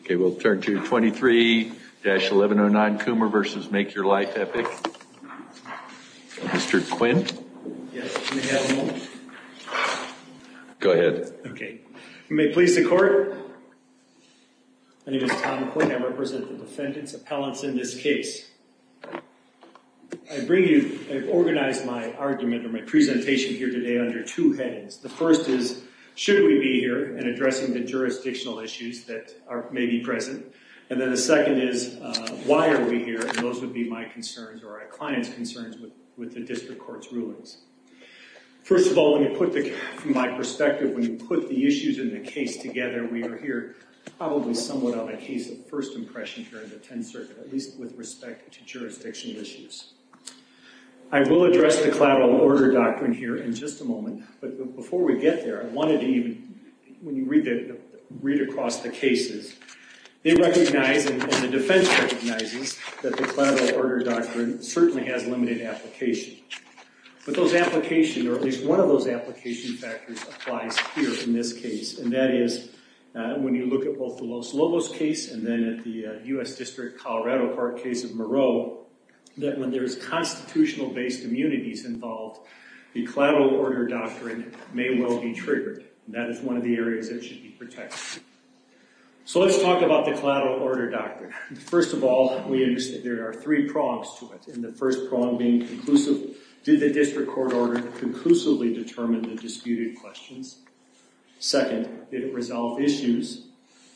Okay, we'll turn to 23-1109 Coomer v. Make Your Life Epic. Mr. Quinn. Yes, may I have a moment? Go ahead. Okay. You may please support. My name is Tom Quinn. I represent the defendants' appellants in this case. I bring you, I've organized my argument or my presentation here today under two headings. The first is, should we be here in addressing the jurisdictional issues that may be present? And then the second is, why are we here? And those would be my concerns or our client's concerns with the district court's rulings. First of all, let me put, from my perspective, when you put the issues in the case together, we are here probably somewhat on a case of first impression here in the Tenth Circuit, at least with respect to jurisdictional issues. I will address the collateral order doctrine here in just a moment, but before we get there, I wanted to even, when you read across the cases, they recognize and the defense recognizes that the collateral order doctrine certainly has limited application. But those applications, or at least one of those application factors applies here in this case, and that is when you look at both the Los Lobos case and then at the U.S. District, Colorado Park case of Moreau, that when there is constitutional-based immunities involved, the collateral order doctrine may well be triggered. That is one of the areas that should be protected. So let's talk about the collateral order doctrine. First of all, we understand there are three prongs to it, and the first prong being conclusive. Did the district court order conclusively determine the disputed questions? Second, did it resolve issues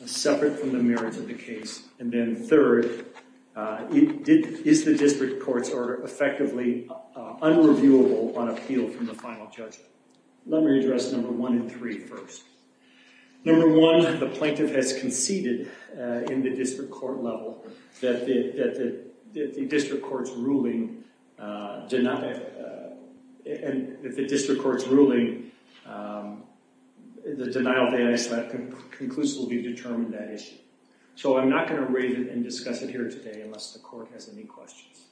separate from the merits of the case? And then third, is the district court's order effectively unreviewable on appeal from the final judgment? Let me address number one and three first. Number one, the plaintiff has conceded in the district court level that the district court's ruling, and if the district court's ruling, the denial of AISLAP conclusively determined that issue. So I'm not going to raise it and discuss it here today unless the court has any questions.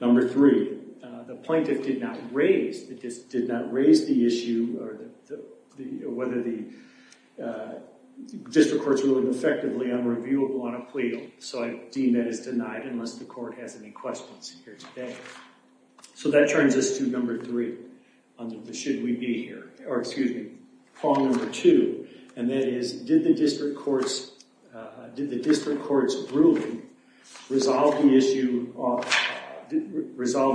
Number three, the plaintiff did not raise the issue whether the district court's ruling effectively unreviewable on appeal, so I deem that as denied unless the court has any questions here today. So that turns us to number three on the should we be here, or excuse me, prong number two, and that is did the district court's ruling resolve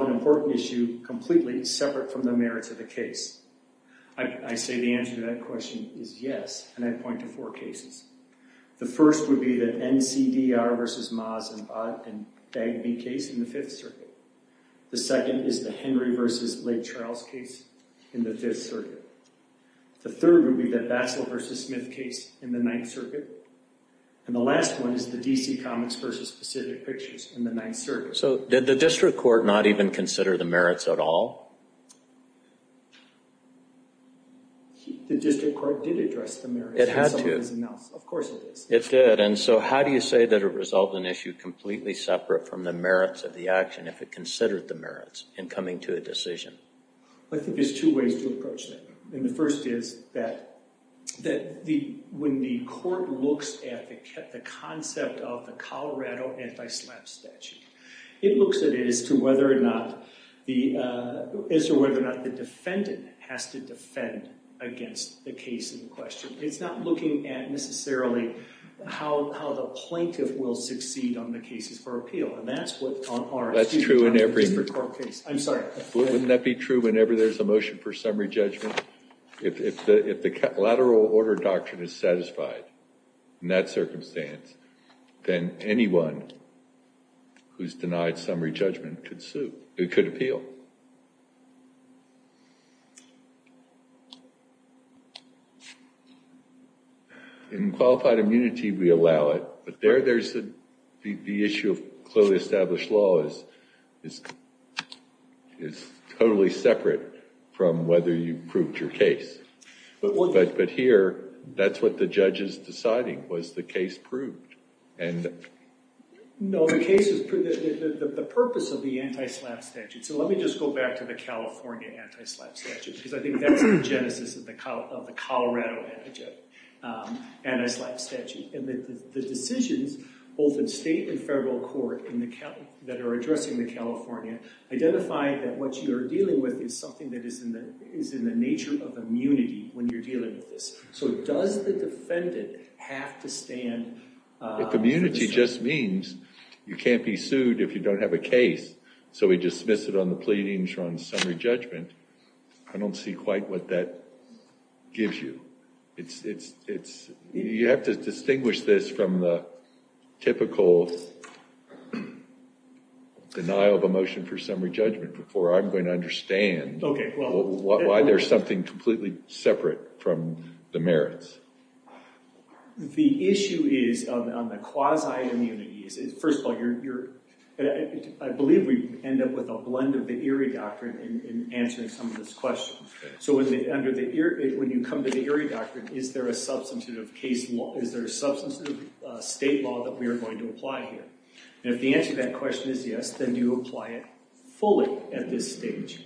an important issue completely separate from the merits of the case? I say the answer to that question is yes, and I point to four cases. The first would be the NCDR v. Maas and Bagby case in the Fifth Circuit. The second is the Henry v. Lake Charles case in the Fifth Circuit. The third would be the Bassel v. Smith case in the Ninth Circuit, and the last one is the DC Comics v. Pacific Pictures in the Ninth Circuit. So did the district court not even consider the merits at all? The district court did address the merits. It had to. Of course it did. It did, and so how do you say that it resolved an issue completely separate from the merits of the action if it considered the merits in coming to a decision? I think there's two ways to approach that. The first is that when the court looks at the concept of the Colorado anti-slap statute, it looks at it as to whether or not the defendant has to defend against the case in question. It's not looking at necessarily how the plaintiff will succeed on the cases for appeal, and that's what Tom Horan's case is. That's true in every court case. I'm sorry. Wouldn't that be true whenever there's a motion for summary judgment? If the lateral order doctrine is satisfied in that circumstance, then anyone who's denied summary judgment could appeal. In qualified immunity, we allow it, but the issue of clearly established law is totally separate from whether you proved your case. But here, that's what the judge is deciding. Was the case proved? No, the purpose of the anti-slap statute. So let me just go back to the California anti-slap statute, because I think that's the genesis of the Colorado anti-slap statute. The decisions, both in state and federal court that are addressing the California, identify that what you're dealing with is something that is in the nature of immunity when you're dealing with this. So does the defendant have to stand? If immunity just means you can't be sued if you don't have a case, so we dismiss it on the pleadings or on the summary judgment, I don't see quite what that gives you. You have to distinguish this from the typical denial of a motion for summary judgment before I'm going to understand why there's something completely separate from the merits. The issue is on the quasi-immunity. First of all, I believe we end up with a blend of the Erie Doctrine in answering some of those questions. So when you come to the Erie Doctrine, is there a substantive state law that we are going to apply here? And if the answer to that question is yes, then do you apply it fully at this stage?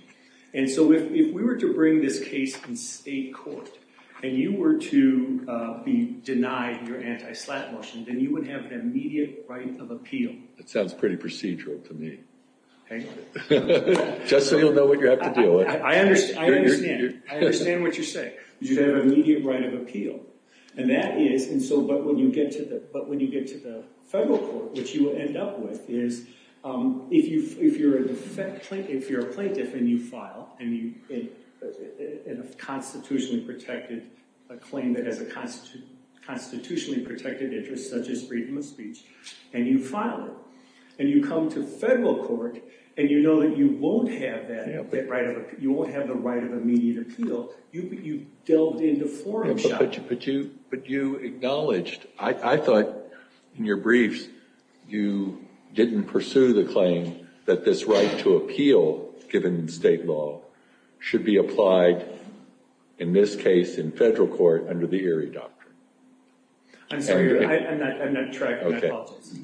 And so if we were to bring this case in state court and you were to be denied your anti-slap motion, then you would have an immediate right of appeal. That sounds pretty procedural to me. Hang on. Just so you'll know what you have to deal with. I understand. I understand what you're saying. You'd have an immediate right of appeal. But when you get to the federal court, which you will end up with, is if you're a plaintiff and you file a constitutionally protected claim that has a constitutionally protected interest, such as freedom of speech, and you file it, and you come to federal court, and you know that you won't have the right of immediate appeal, you've delved into foreign shock. But you acknowledged. I thought in your briefs you didn't pursue the claim that this right to appeal, given state law, should be applied in this case in federal court under the Erie Doctrine. I'm not tracking. I apologize.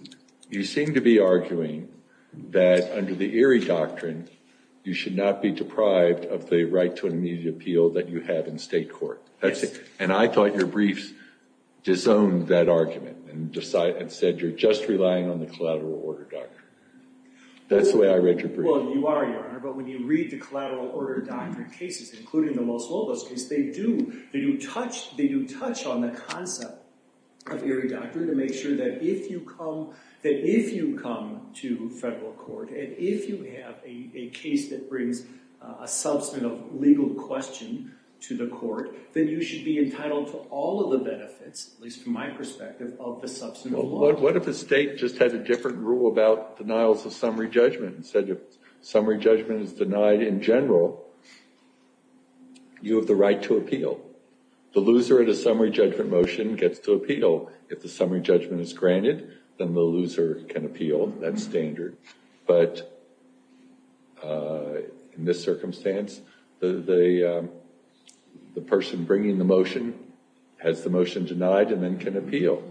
You seem to be arguing that under the Erie Doctrine you should not be deprived of the right to an immediate appeal that you have in state court. Yes. And I thought your briefs disowned that argument and said you're just relying on the Collateral Order Doctrine. That's the way I read your brief. Well, you are, Your Honor. But when you read the Collateral Order Doctrine cases, including the Los Lobos case, they do touch on the concept of Erie Doctrine to make sure that if you come to federal court, and if you have a case that brings a substantive legal question to the court, then you should be entitled to all of the benefits, at least from my perspective, of the substantive law. Well, what if the state just had a different rule about denials of summary judgment and said if summary judgment is denied in general, you have the right to appeal? The loser of the summary judgment motion gets to appeal. If the summary judgment is granted, then the loser can appeal. That's standard. But in this circumstance, the person bringing the motion has the motion denied and then can appeal.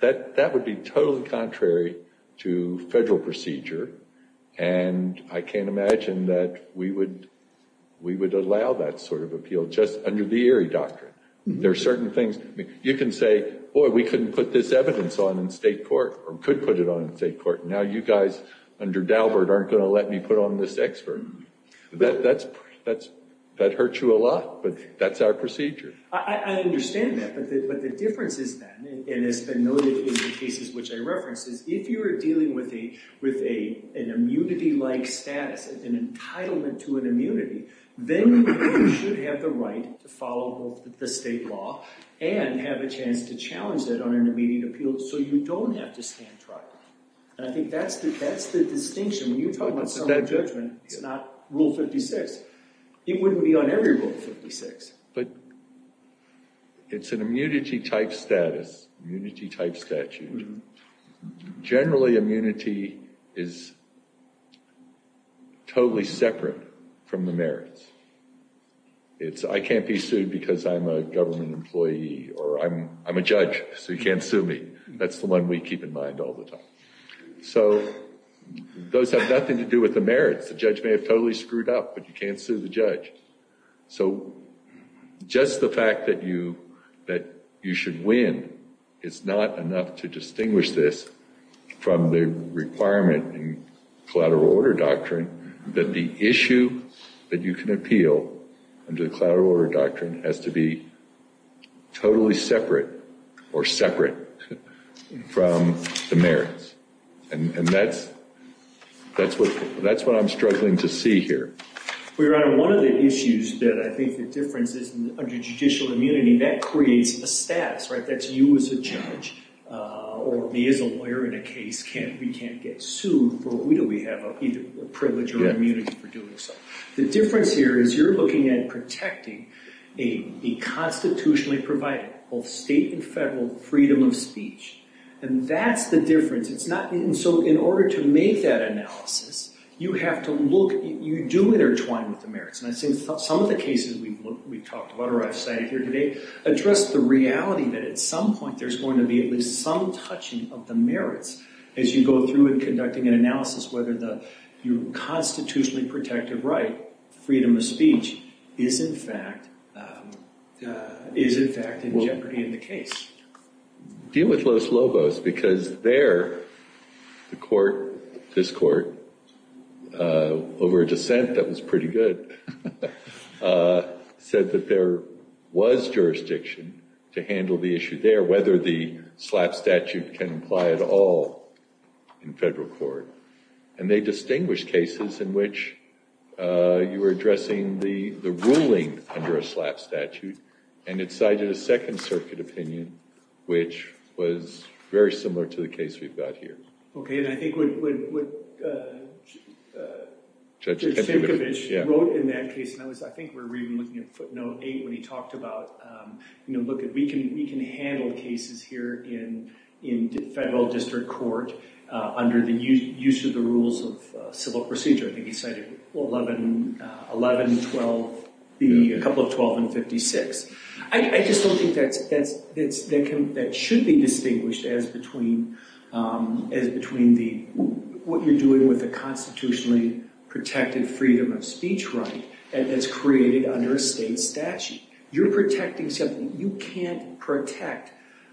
That would be totally contrary to federal procedure, and I can't imagine that we would allow that sort of appeal just under the Erie Doctrine. There are certain things. You can say, boy, we couldn't put this evidence on in state court or could put it on in state court, and now you guys under Dalbert aren't going to let me put on this expert. That hurts you a lot, but that's our procedure. I understand that, but the difference is then, and it's been noted in the cases which I referenced, is if you're dealing with an immunity-like status, an entitlement to an immunity, then you should have the right to follow the state law and have a chance to challenge that on an immediate appeal so you don't have to stand trial. And I think that's the distinction. When you talk about summary judgment, it's not Rule 56. It wouldn't be on every Rule 56. But it's an immunity-type status, immunity-type statute. Generally, immunity is totally separate from the merits. It's I can't be sued because I'm a government employee or I'm a judge, so you can't sue me. That's the one we keep in mind all the time. So those have nothing to do with the merits. The judge may have totally screwed up, but you can't sue the judge. So just the fact that you should win is not enough to distinguish this from the requirement in collateral order doctrine that the issue that you can appeal under the collateral order doctrine has to be totally separate or separate from the merits. And that's what I'm struggling to see here. We're on one of the issues that I think the difference is under judicial immunity, that creates a status, right? That's you as a judge or me as a lawyer in a case. We can't get sued. For who do we have either privilege or immunity for doing so? The difference here is you're looking at protecting a constitutionally provided, both state and federal, freedom of speech. And that's the difference. So in order to make that analysis, you have to look, you do intertwine with the merits. And I think some of the cases we've talked about or I've cited here today address the reality that at some point there's going to be at least some touching of the merits as you go through in conducting an analysis whether your constitutionally protected right, freedom of speech, is in fact in jeopardy in the case. Deal with Los Lobos because there the court, this court, over a dissent that was pretty good, said that there was jurisdiction to handle the issue there, whether the SLAPP statute can apply at all in federal court. And they distinguished cases in which you were addressing the ruling under a SLAPP statute and it cited a Second Circuit opinion, which was very similar to the case we've got here. Okay, and I think what Judge Simcovich wrote in that case, and I think we were even looking at footnote eight when he talked about, you know, look, we can handle cases here in federal district court under the use of the rules of civil procedure. I think he cited 11, 12, a couple of 12 and 56. I just don't think that should be distinguished as between what you're doing with a constitutionally protected freedom of speech right that's created under a state statute. You're protecting something. You can't protect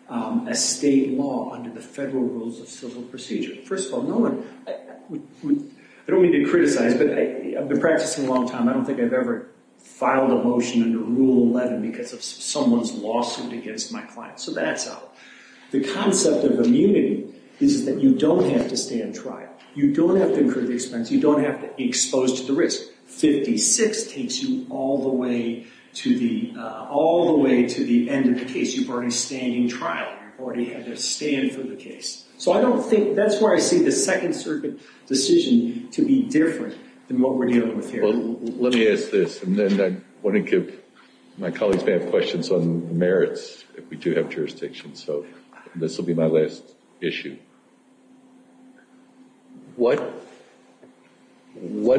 a state law under the federal rules of civil procedure. First of all, no one, I don't mean to criticize, but I've been practicing a long time. I don't think I've ever filed a motion under Rule 11 because of someone's lawsuit against my client. So that's out. The concept of immunity is that you don't have to stand trial. You don't have to incur the expense. You don't have to be exposed to the risk. 56 takes you all the way to the, all the way to the end of the case. You've already standing trial. You've already had to stand for the case. So I don't think, that's where I see the Second Circuit decision to be different than what we're dealing with here. Well, let me ask this, and then I want to give my colleagues may have questions on merits if we do have jurisdiction. So this will be my last issue. What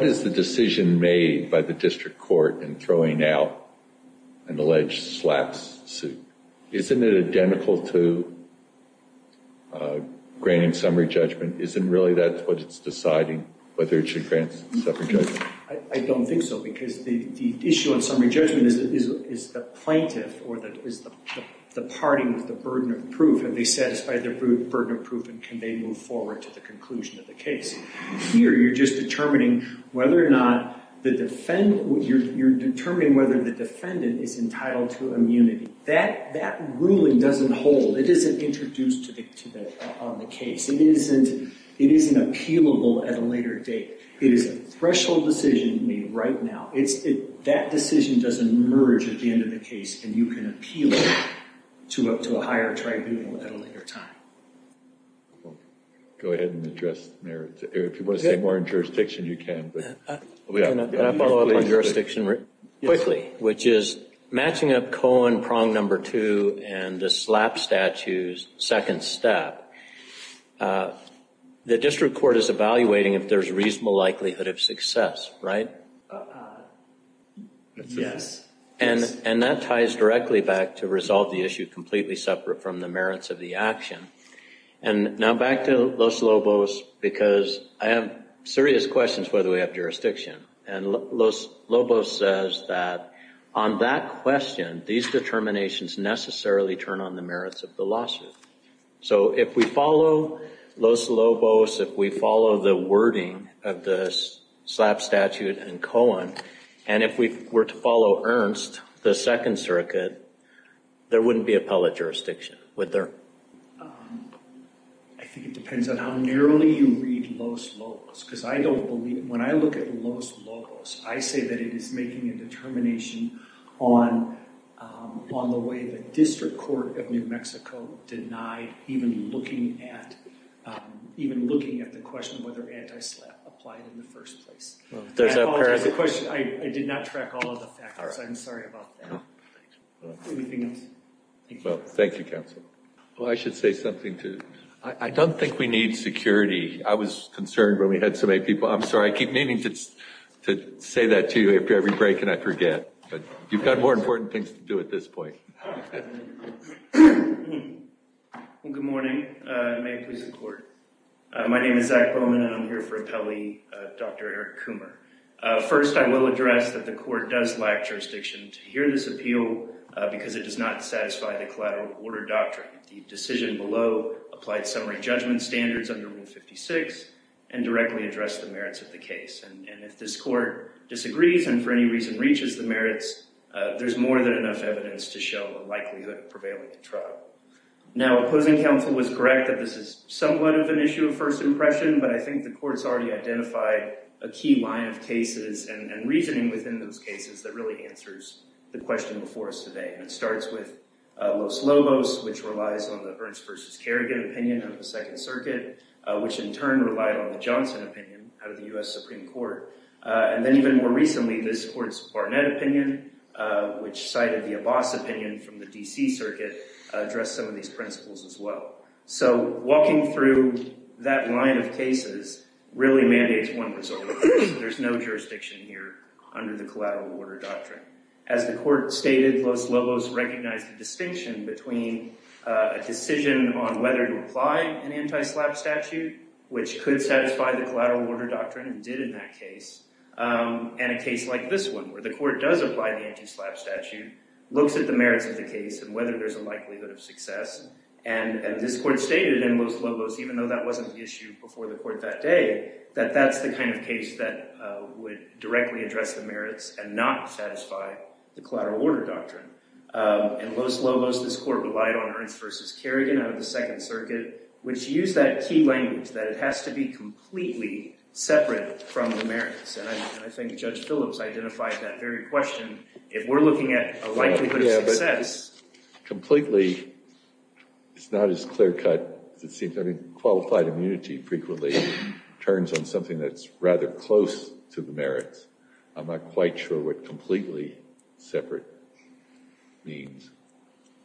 is the decision made by the district court in throwing out an alleged slap suit? Isn't it identical to granting summary judgment? Isn't really that what it's deciding, whether it should grant summary judgment? I don't think so, because the issue in summary judgment is the plaintiff or the party with the burden of proof. Have they satisfied their burden of proof and can they move forward to the conclusion of the case? Here, you're just determining whether or not the defendant, you're determining whether the defendant is entitled to immunity. That ruling doesn't hold. It isn't introduced on the case. It isn't appealable at a later date. It is a threshold decision made right now. That decision doesn't emerge at the end of the case, and you can appeal it to a higher tribunal at a later time. Go ahead and address merits. If you want to say more on jurisdiction, you can. Can I follow up on jurisdiction quickly, which is matching up Cohen prong number two and the slap statues second step. The district court is evaluating if there's reasonable likelihood of success, right? Yes. And that ties directly back to resolve the issue completely separate from the merits of the action. And now back to Los Lobos, because I have serious questions whether we have jurisdiction. And Los Lobos says that on that question, these determinations necessarily turn on the merits of the lawsuit. So if we follow Los Lobos, if we follow the wording of the slap statute and Cohen, and if we were to follow Ernst, the second circuit, there wouldn't be appellate jurisdiction, would there? I think it depends on how narrowly you read Los Lobos, because I don't believe, when I look at Los Lobos, I say that it is making a determination on the way the district court of New Mexico denied even looking at the question of whether anti-slap applied in the first place. I did not track all of the factors. I'm sorry about that. Anything else? Thank you, counsel. Well, I should say something, too. I don't think we need security. I was concerned when we had so many people. I'm sorry, I keep meaning to say that to you after every break, and I forget. But you've got more important things to do at this point. Good morning. May it please the court. My name is Zach Bowman, and I'm here for appellee Dr. Eric Coomer. First, I will address that the court does lack jurisdiction to hear this appeal because it does not satisfy the collateral order doctrine. It does not satisfy the decision below applied summary judgment standards under Rule 56 and directly address the merits of the case. And if this court disagrees and for any reason reaches the merits, there's more than enough evidence to show the likelihood of prevailing in trial. Now, opposing counsel was correct that this is somewhat of an issue of first impression, but I think the court's already identified a key line of cases and reasoning within those cases that really answers the question before us today. And it starts with Los Lobos, which relies on the Ernst versus Kerrigan opinion of the Second Circuit, which in turn relied on the Johnson opinion out of the U.S. Supreme Court. And then even more recently, this court's Barnett opinion, which cited the Abbas opinion from the D.C. Circuit, addressed some of these principles as well. So walking through that line of cases really mandates one resolve. There's no jurisdiction here under the collateral order doctrine. As the court stated, Los Lobos recognized the distinction between a decision on whether to apply an anti-SLAPP statute, which could satisfy the collateral order doctrine and did in that case, and a case like this one, where the court does apply the anti-SLAPP statute, looks at the merits of the case and whether there's a likelihood of success. And this court stated in Los Lobos, even though that wasn't the issue before the court that day, that that's the kind of case that would directly address the merits and not satisfy the collateral order doctrine. In Los Lobos, this court relied on Ernst versus Kerrigan out of the Second Circuit, which used that key language that it has to be completely separate from the merits. And I think Judge Phillips identified that very question. If we're looking at a likelihood of success. Completely, it's not as clear cut as it seems. I mean, qualified immunity frequently turns on something that's rather close to the merits. I'm not quite sure what completely separate means.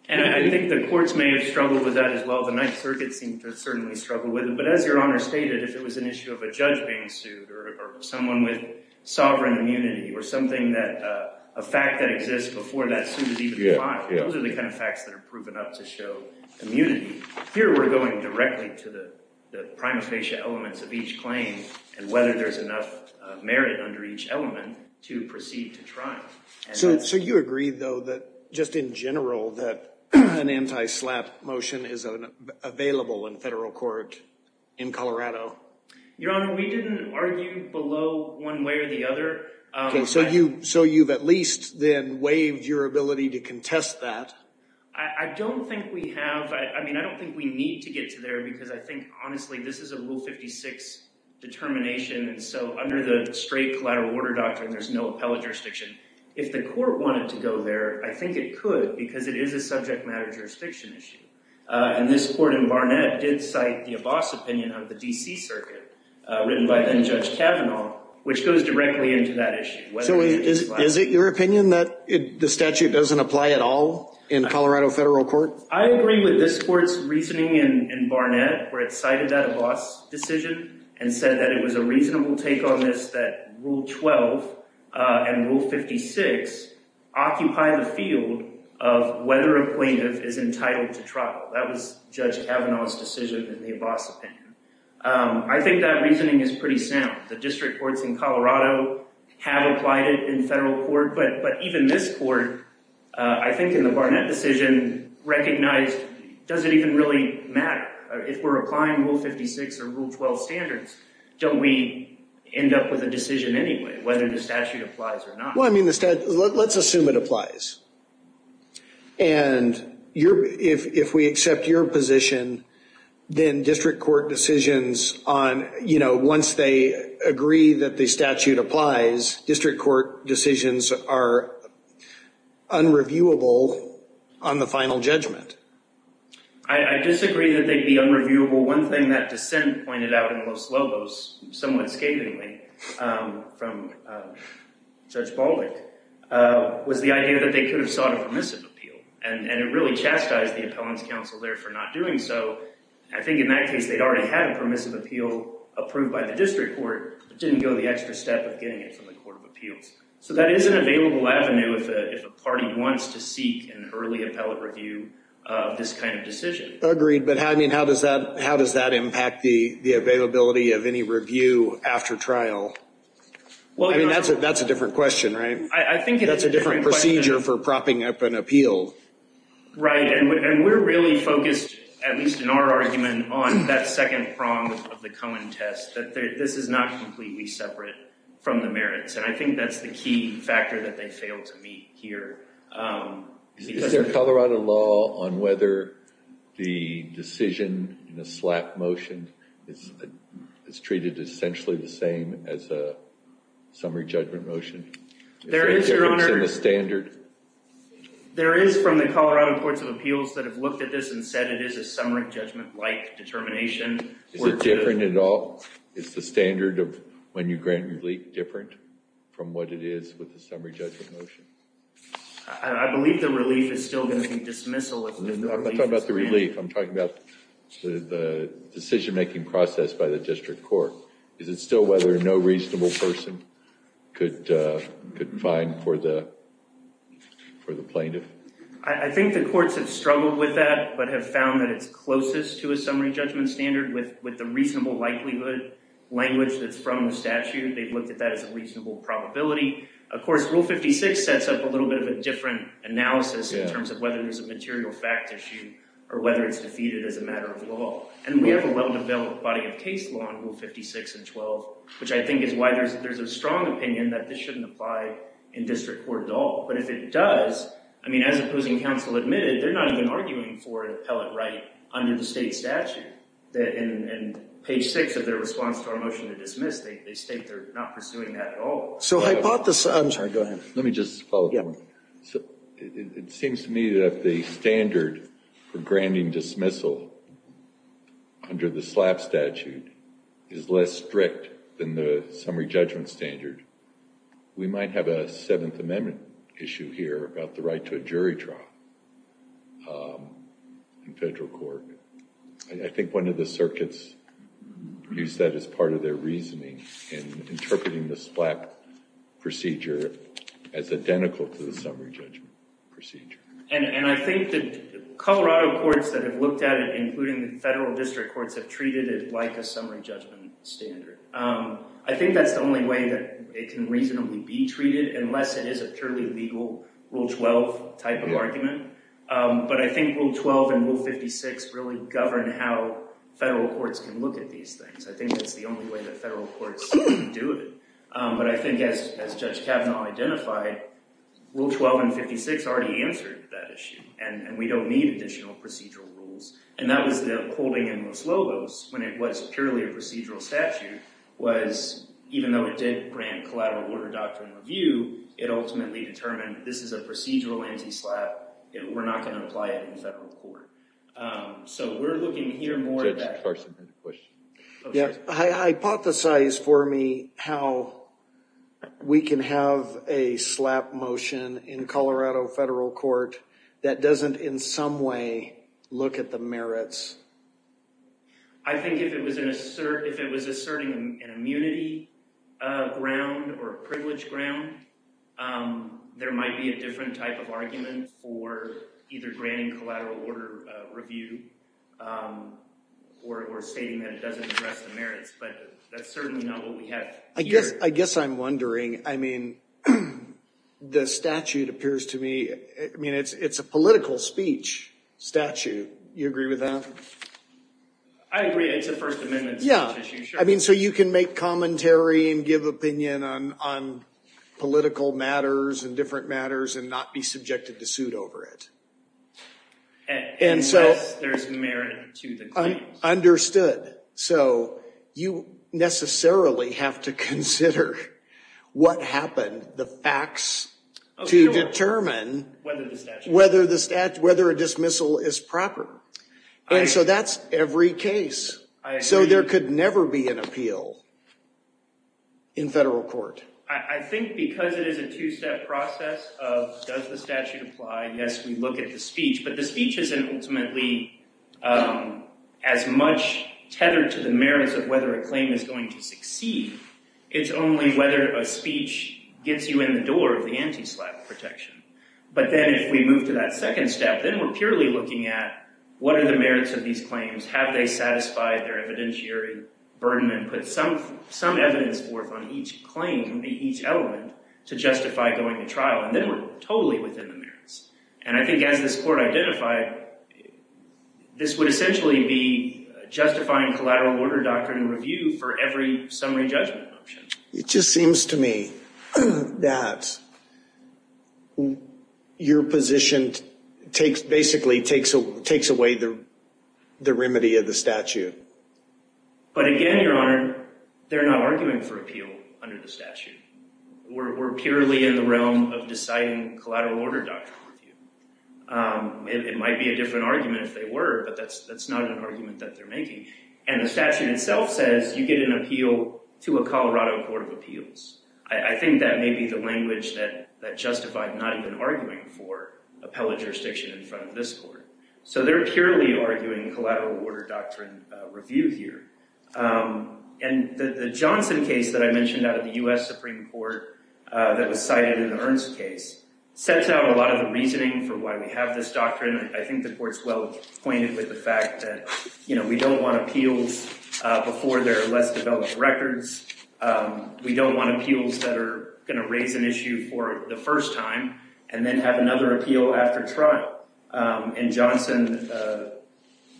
And I think the courts may have struggled with that as well. The Ninth Circuit seemed to certainly struggle with it. But as Your Honor stated, if it was an issue of a judge being sued, or someone with sovereign immunity, or a fact that exists before that suit is even applied, those are the kind of facts that are proven up to show immunity. Here, we're going directly to the prima facie elements of each claim and whether there's enough merit under each element to proceed to trial. So you agree, though, that just in general, that an anti-SLAPP motion is available in federal court in Colorado? Your Honor, we didn't argue below one way or the other. So you've at least then waived your ability to contest that? I don't think we have. I mean, I don't think we need to get to there. Because I think, honestly, this is a Rule 56 determination. And so under the straight collateral order doctrine, there's no appellate jurisdiction. If the court wanted to go there, I think it could, because it is a subject matter jurisdiction issue. And this court in Barnett did cite the Abbas opinion of the D.C. Circuit, written by then-Judge Kavanaugh, which goes directly into that issue. So is it your opinion that the statute doesn't apply at all in Colorado federal court? I agree with this court's reasoning in Barnett, where it cited that Abbas decision and said that it was a reasonable take on this that Rule 12 and Rule 56 occupy the field of whether a plaintiff is entitled to trial. That was Judge Kavanaugh's decision in the Abbas opinion. I think that reasoning is pretty sound. The district courts in Colorado have applied it in federal court. But even this court, I think in the Barnett decision, recognized, does it even really matter? If we're applying Rule 56 or Rule 12 standards, don't we end up with a decision anyway, whether the statute applies or not? Well, I mean, let's assume it applies. And if we accept your position, then district court decisions on, you know, once they agree that the statute applies, district court decisions are unreviewable on the final judgment. I disagree that they'd be unreviewable. Well, one thing that dissent pointed out in Los Lobos, somewhat scathingly from Judge Baldick, was the idea that they could have sought a permissive appeal. And it really chastised the appellant's counsel there for not doing so. I think in that case, they'd already had a permissive appeal approved by the district court, but didn't go the extra step of getting it from the court of appeals. So that is an available avenue if a party wants to seek an early appellate review of this kind of decision. Agreed, but I mean, how does that impact the availability of any review after trial? I mean, that's a different question, right? That's a different procedure for propping up an appeal. Right, and we're really focused, at least in our argument, on that second prong of the Cohen test, that this is not completely separate from the merits. And I think that's the key factor that they failed to meet here. Is there a Colorado law on whether the decision in the SLAP motion is treated essentially the same as a summary judgment motion? There is, Your Honor. Is there a difference in the standard? There is from the Colorado courts of appeals that have looked at this and said it is a summary judgment-like determination. Is it different at all? Is the standard of when you grant relief different from what it is with the summary judgment motion? I believe the relief is still going to be dismissal. I'm not talking about the relief. I'm talking about the decision-making process by the district court. Is it still whether no reasonable person could find for the plaintiff? I think the courts have struggled with that but have found that it's closest to a summary judgment standard with the reasonable likelihood language that's from the statute. They've looked at that as a reasonable probability. Of course, Rule 56 sets up a little bit of a different analysis in terms of whether there's a material fact issue or whether it's defeated as a matter of law. And we have a well-developed body of case law in Rule 56 and 12, which I think is why there's a strong opinion that this shouldn't apply in district court at all. But if it does, I mean, as opposing counsel admitted, they're not even arguing for an appellate right under the state statute. In page 6 of their response to our motion to dismiss, they state they're not pursuing that at all. I'm sorry, go ahead. Let me just follow up. It seems to me that the standard for granting dismissal under the SLAP statute is less strict than the summary judgment standard. We might have a Seventh Amendment issue here about the right to a jury trial in federal court. I think one of the circuits used that as part of their reasoning in interpreting the SLAP procedure as identical to the summary judgment procedure. And I think the Colorado courts that have looked at it, including the federal district courts, have treated it like a summary judgment standard. I think that's the only way that it can reasonably be treated, unless it is a purely legal Rule 12 type of argument. But I think Rule 12 and Rule 56 really govern how federal courts can look at these things. I think that's the only way that federal courts can do it. But I think as Judge Kavanaugh identified, Rule 12 and 56 already answered that issue. And we don't need additional procedural rules. And that was the holding in Los Lobos, when it was purely a procedural statute, was even though it did grant collateral order doctrine review, it ultimately determined this is a procedural anti-SLAP. We're not going to apply it in federal court. So we're looking here more at that question. Hypothesize for me how we can have a SLAP motion in Colorado federal court that doesn't in some way look at the merits. I think if it was asserting an immunity ground or a privilege ground, there might be a different type of argument for either granting collateral order review or stating that it doesn't address the merits. But that's certainly not what we have here. I guess I'm wondering, I mean, the statute appears to me, I mean, it's a political speech statute. You agree with that? I agree. It's a First Amendment speech issue. Yeah. I mean, so you can make commentary and give opinion on political matters and different matters and not be subjected to suit over it. Unless there's merit to the claims. Understood. So you necessarily have to consider what happened, the facts, to determine whether a dismissal is proper. And so that's every case. So there could never be an appeal in federal court. I think because it is a two-step process of does the statute apply, yes, we look at the speech, but the speech isn't ultimately as much tethered to the merits of whether a claim is going to succeed. It's only whether a speech gets you in the door of the anti-SLAP protection. But then if we move to that second step, then we're purely looking at what are the merits of these claims. Have they satisfied their evidentiary burden and put some evidence forth on each claim, each element, to justify going to trial. And then we're totally within the merits. And I think as this court identified, this would essentially be justifying collateral order doctrine review for every summary judgment option. It just seems to me that your position basically takes away the remedy of the statute. But again, Your Honor, they're not arguing for appeal under the statute. We're purely in the realm of deciding collateral order doctrine review. It might be a different argument if they were, but that's not an argument that they're making. And the statute itself says you get an appeal to a Colorado Court of Appeals. I think that may be the language that justified not even arguing for appellate jurisdiction in front of this court. So they're purely arguing collateral order doctrine review here. And the Johnson case that I mentioned out of the U.S. Supreme Court that was cited in the Ernst case sets out a lot of the reasoning for why we have this doctrine. I think the court's well acquainted with the fact that we don't want appeals before there are less developed records. We don't want appeals that are going to raise an issue for the first time and then have another appeal after trial. In Johnson,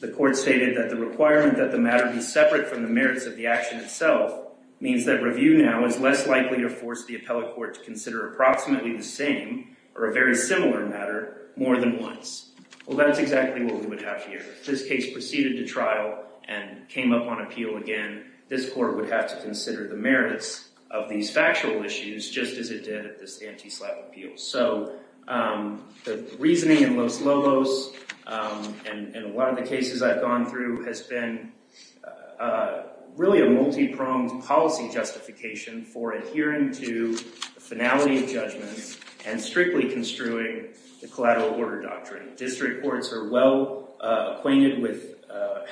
the court stated that the requirement that the matter be separate from the merits of the action itself means that review now is less likely to force the appellate court to consider approximately the same or a very similar matter more than once. Well, that's exactly what we would have here. If this case proceeded to trial and came up on appeal again, this court would have to consider the merits of these factual issues just as it did at this anti-slap appeal. So the reasoning in Los Lobos and a lot of the cases I've gone through has been really a multi-pronged policy justification for adhering to the finality of judgment and strictly construing the collateral order doctrine. District courts are well acquainted with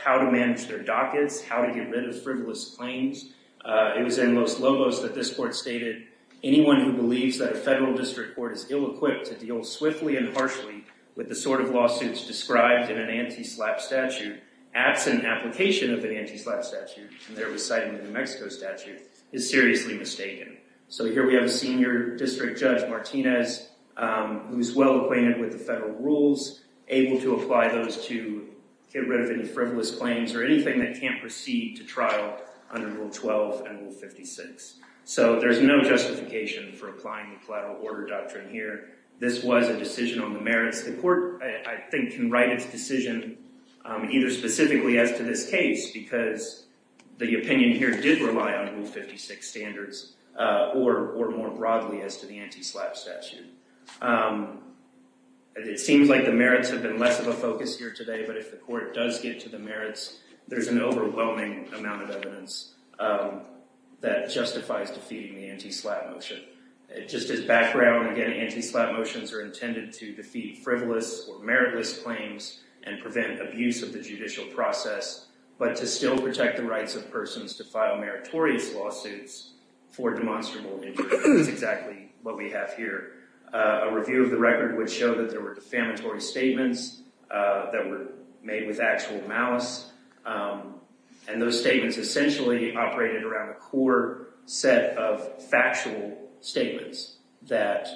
how to manage their dockets, how to get rid of frivolous claims. It was in Los Lobos that this court stated, anyone who believes that a federal district court is ill-equipped to deal swiftly and harshly with the sort of lawsuits described in an anti-slap statute, absent application of an anti-slap statute, and there was citing a New Mexico statute, is seriously mistaken. So here we have a senior district judge, Martinez, who's well acquainted with the federal rules, able to apply those to get rid of any frivolous claims or anything that can't proceed to trial under Rule 12 and Rule 56. So there's no justification for applying the collateral order doctrine here. This was a decision on the merits. The court, I think, can write its decision either specifically as to this case because the opinion here did rely on Rule 56 standards or more broadly as to the anti-slap statute. It seems like the merits have been less of a focus here today, but if the court does get to the merits, there's an overwhelming amount of evidence that justifies defeating the anti-slap motion. Just as background, again, anti-slap motions are intended to defeat frivolous or meritless claims and prevent abuse of the judicial process, but to still protect the rights of persons to file meritorious lawsuits for demonstrable injuries. That's exactly what we have here. A review of the record would show that there were defamatory statements that were made with actual malice, and those statements essentially operated around a core set of factual statements that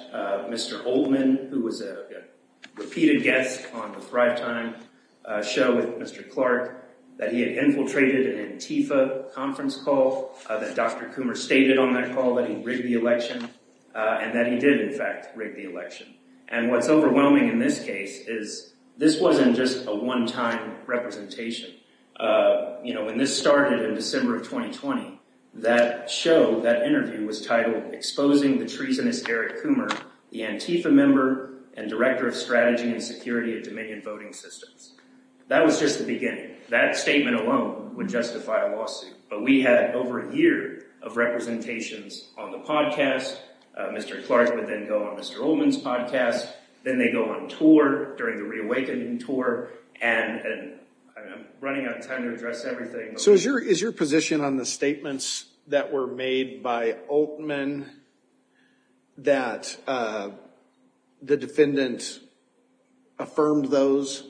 Mr. Oldman, who was a repeated guest on the Thrive Time show with Mr. Clark, that he had infiltrated an Antifa conference call, that Dr. Coomer stated on that call that he rigged the election, and that he did, in fact, rig the election. And what's overwhelming in this case is this wasn't just a one-time representation. When this started in December of 2020, that show, that interview was titled, Exposing the Treasonous Eric Coomer, the Antifa Member and Director of Strategy and Security at Dominion Voting Systems. That was just the beginning. That statement alone would justify a lawsuit. But we had over a year of representations on the podcast. Mr. Clark would then go on Mr. Oldman's podcast. Then they go on tour during the reawakening tour, and I'm running out of time to address everything. So is your position on the statements that were made by Oldman that the defendant affirmed those,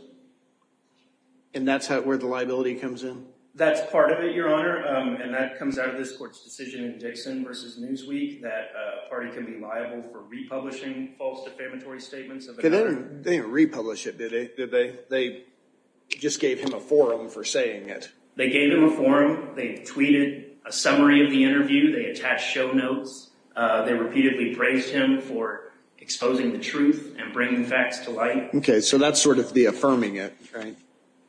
and that's where the liability comes in? That's part of it, Your Honor, and that comes out of this court's decision in Dixon v. Newsweek that a party can be liable for republishing false defamatory statements. They didn't republish it, did they? They just gave him a forum for saying it. They gave him a forum. They tweeted a summary of the interview. They attached show notes. They repeatedly praised him for exposing the truth and bringing facts to light. Okay, so that's sort of the affirming it, right?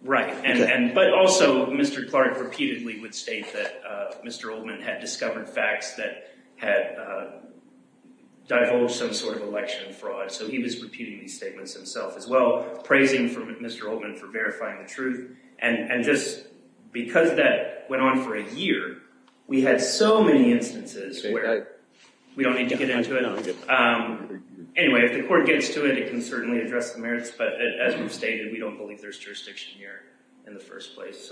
Right, but also Mr. Clark repeatedly would state that Mr. Oldman had discovered facts that had divulged some sort of election fraud. So he was repeating these statements himself as well, praising Mr. Oldman for verifying the truth. And just because that went on for a year, we had so many instances where we don't need to get into it. Anyway, if the court gets to it, it can certainly address the merits, but as we've stated, we don't believe there's jurisdiction here in the first place.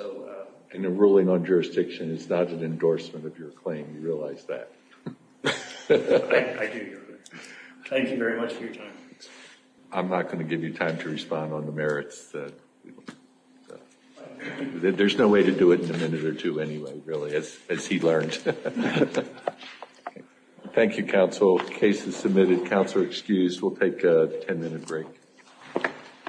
And a ruling on jurisdiction is not an endorsement of your claim. You realize that? I do, Your Honor. Thank you very much for your time. I'm not going to give you time to respond on the merits. There's no way to do it in a minute or two anyway, really, as he learned. Thank you, counsel. Case is submitted. Counsel excused. We'll take a ten-minute break.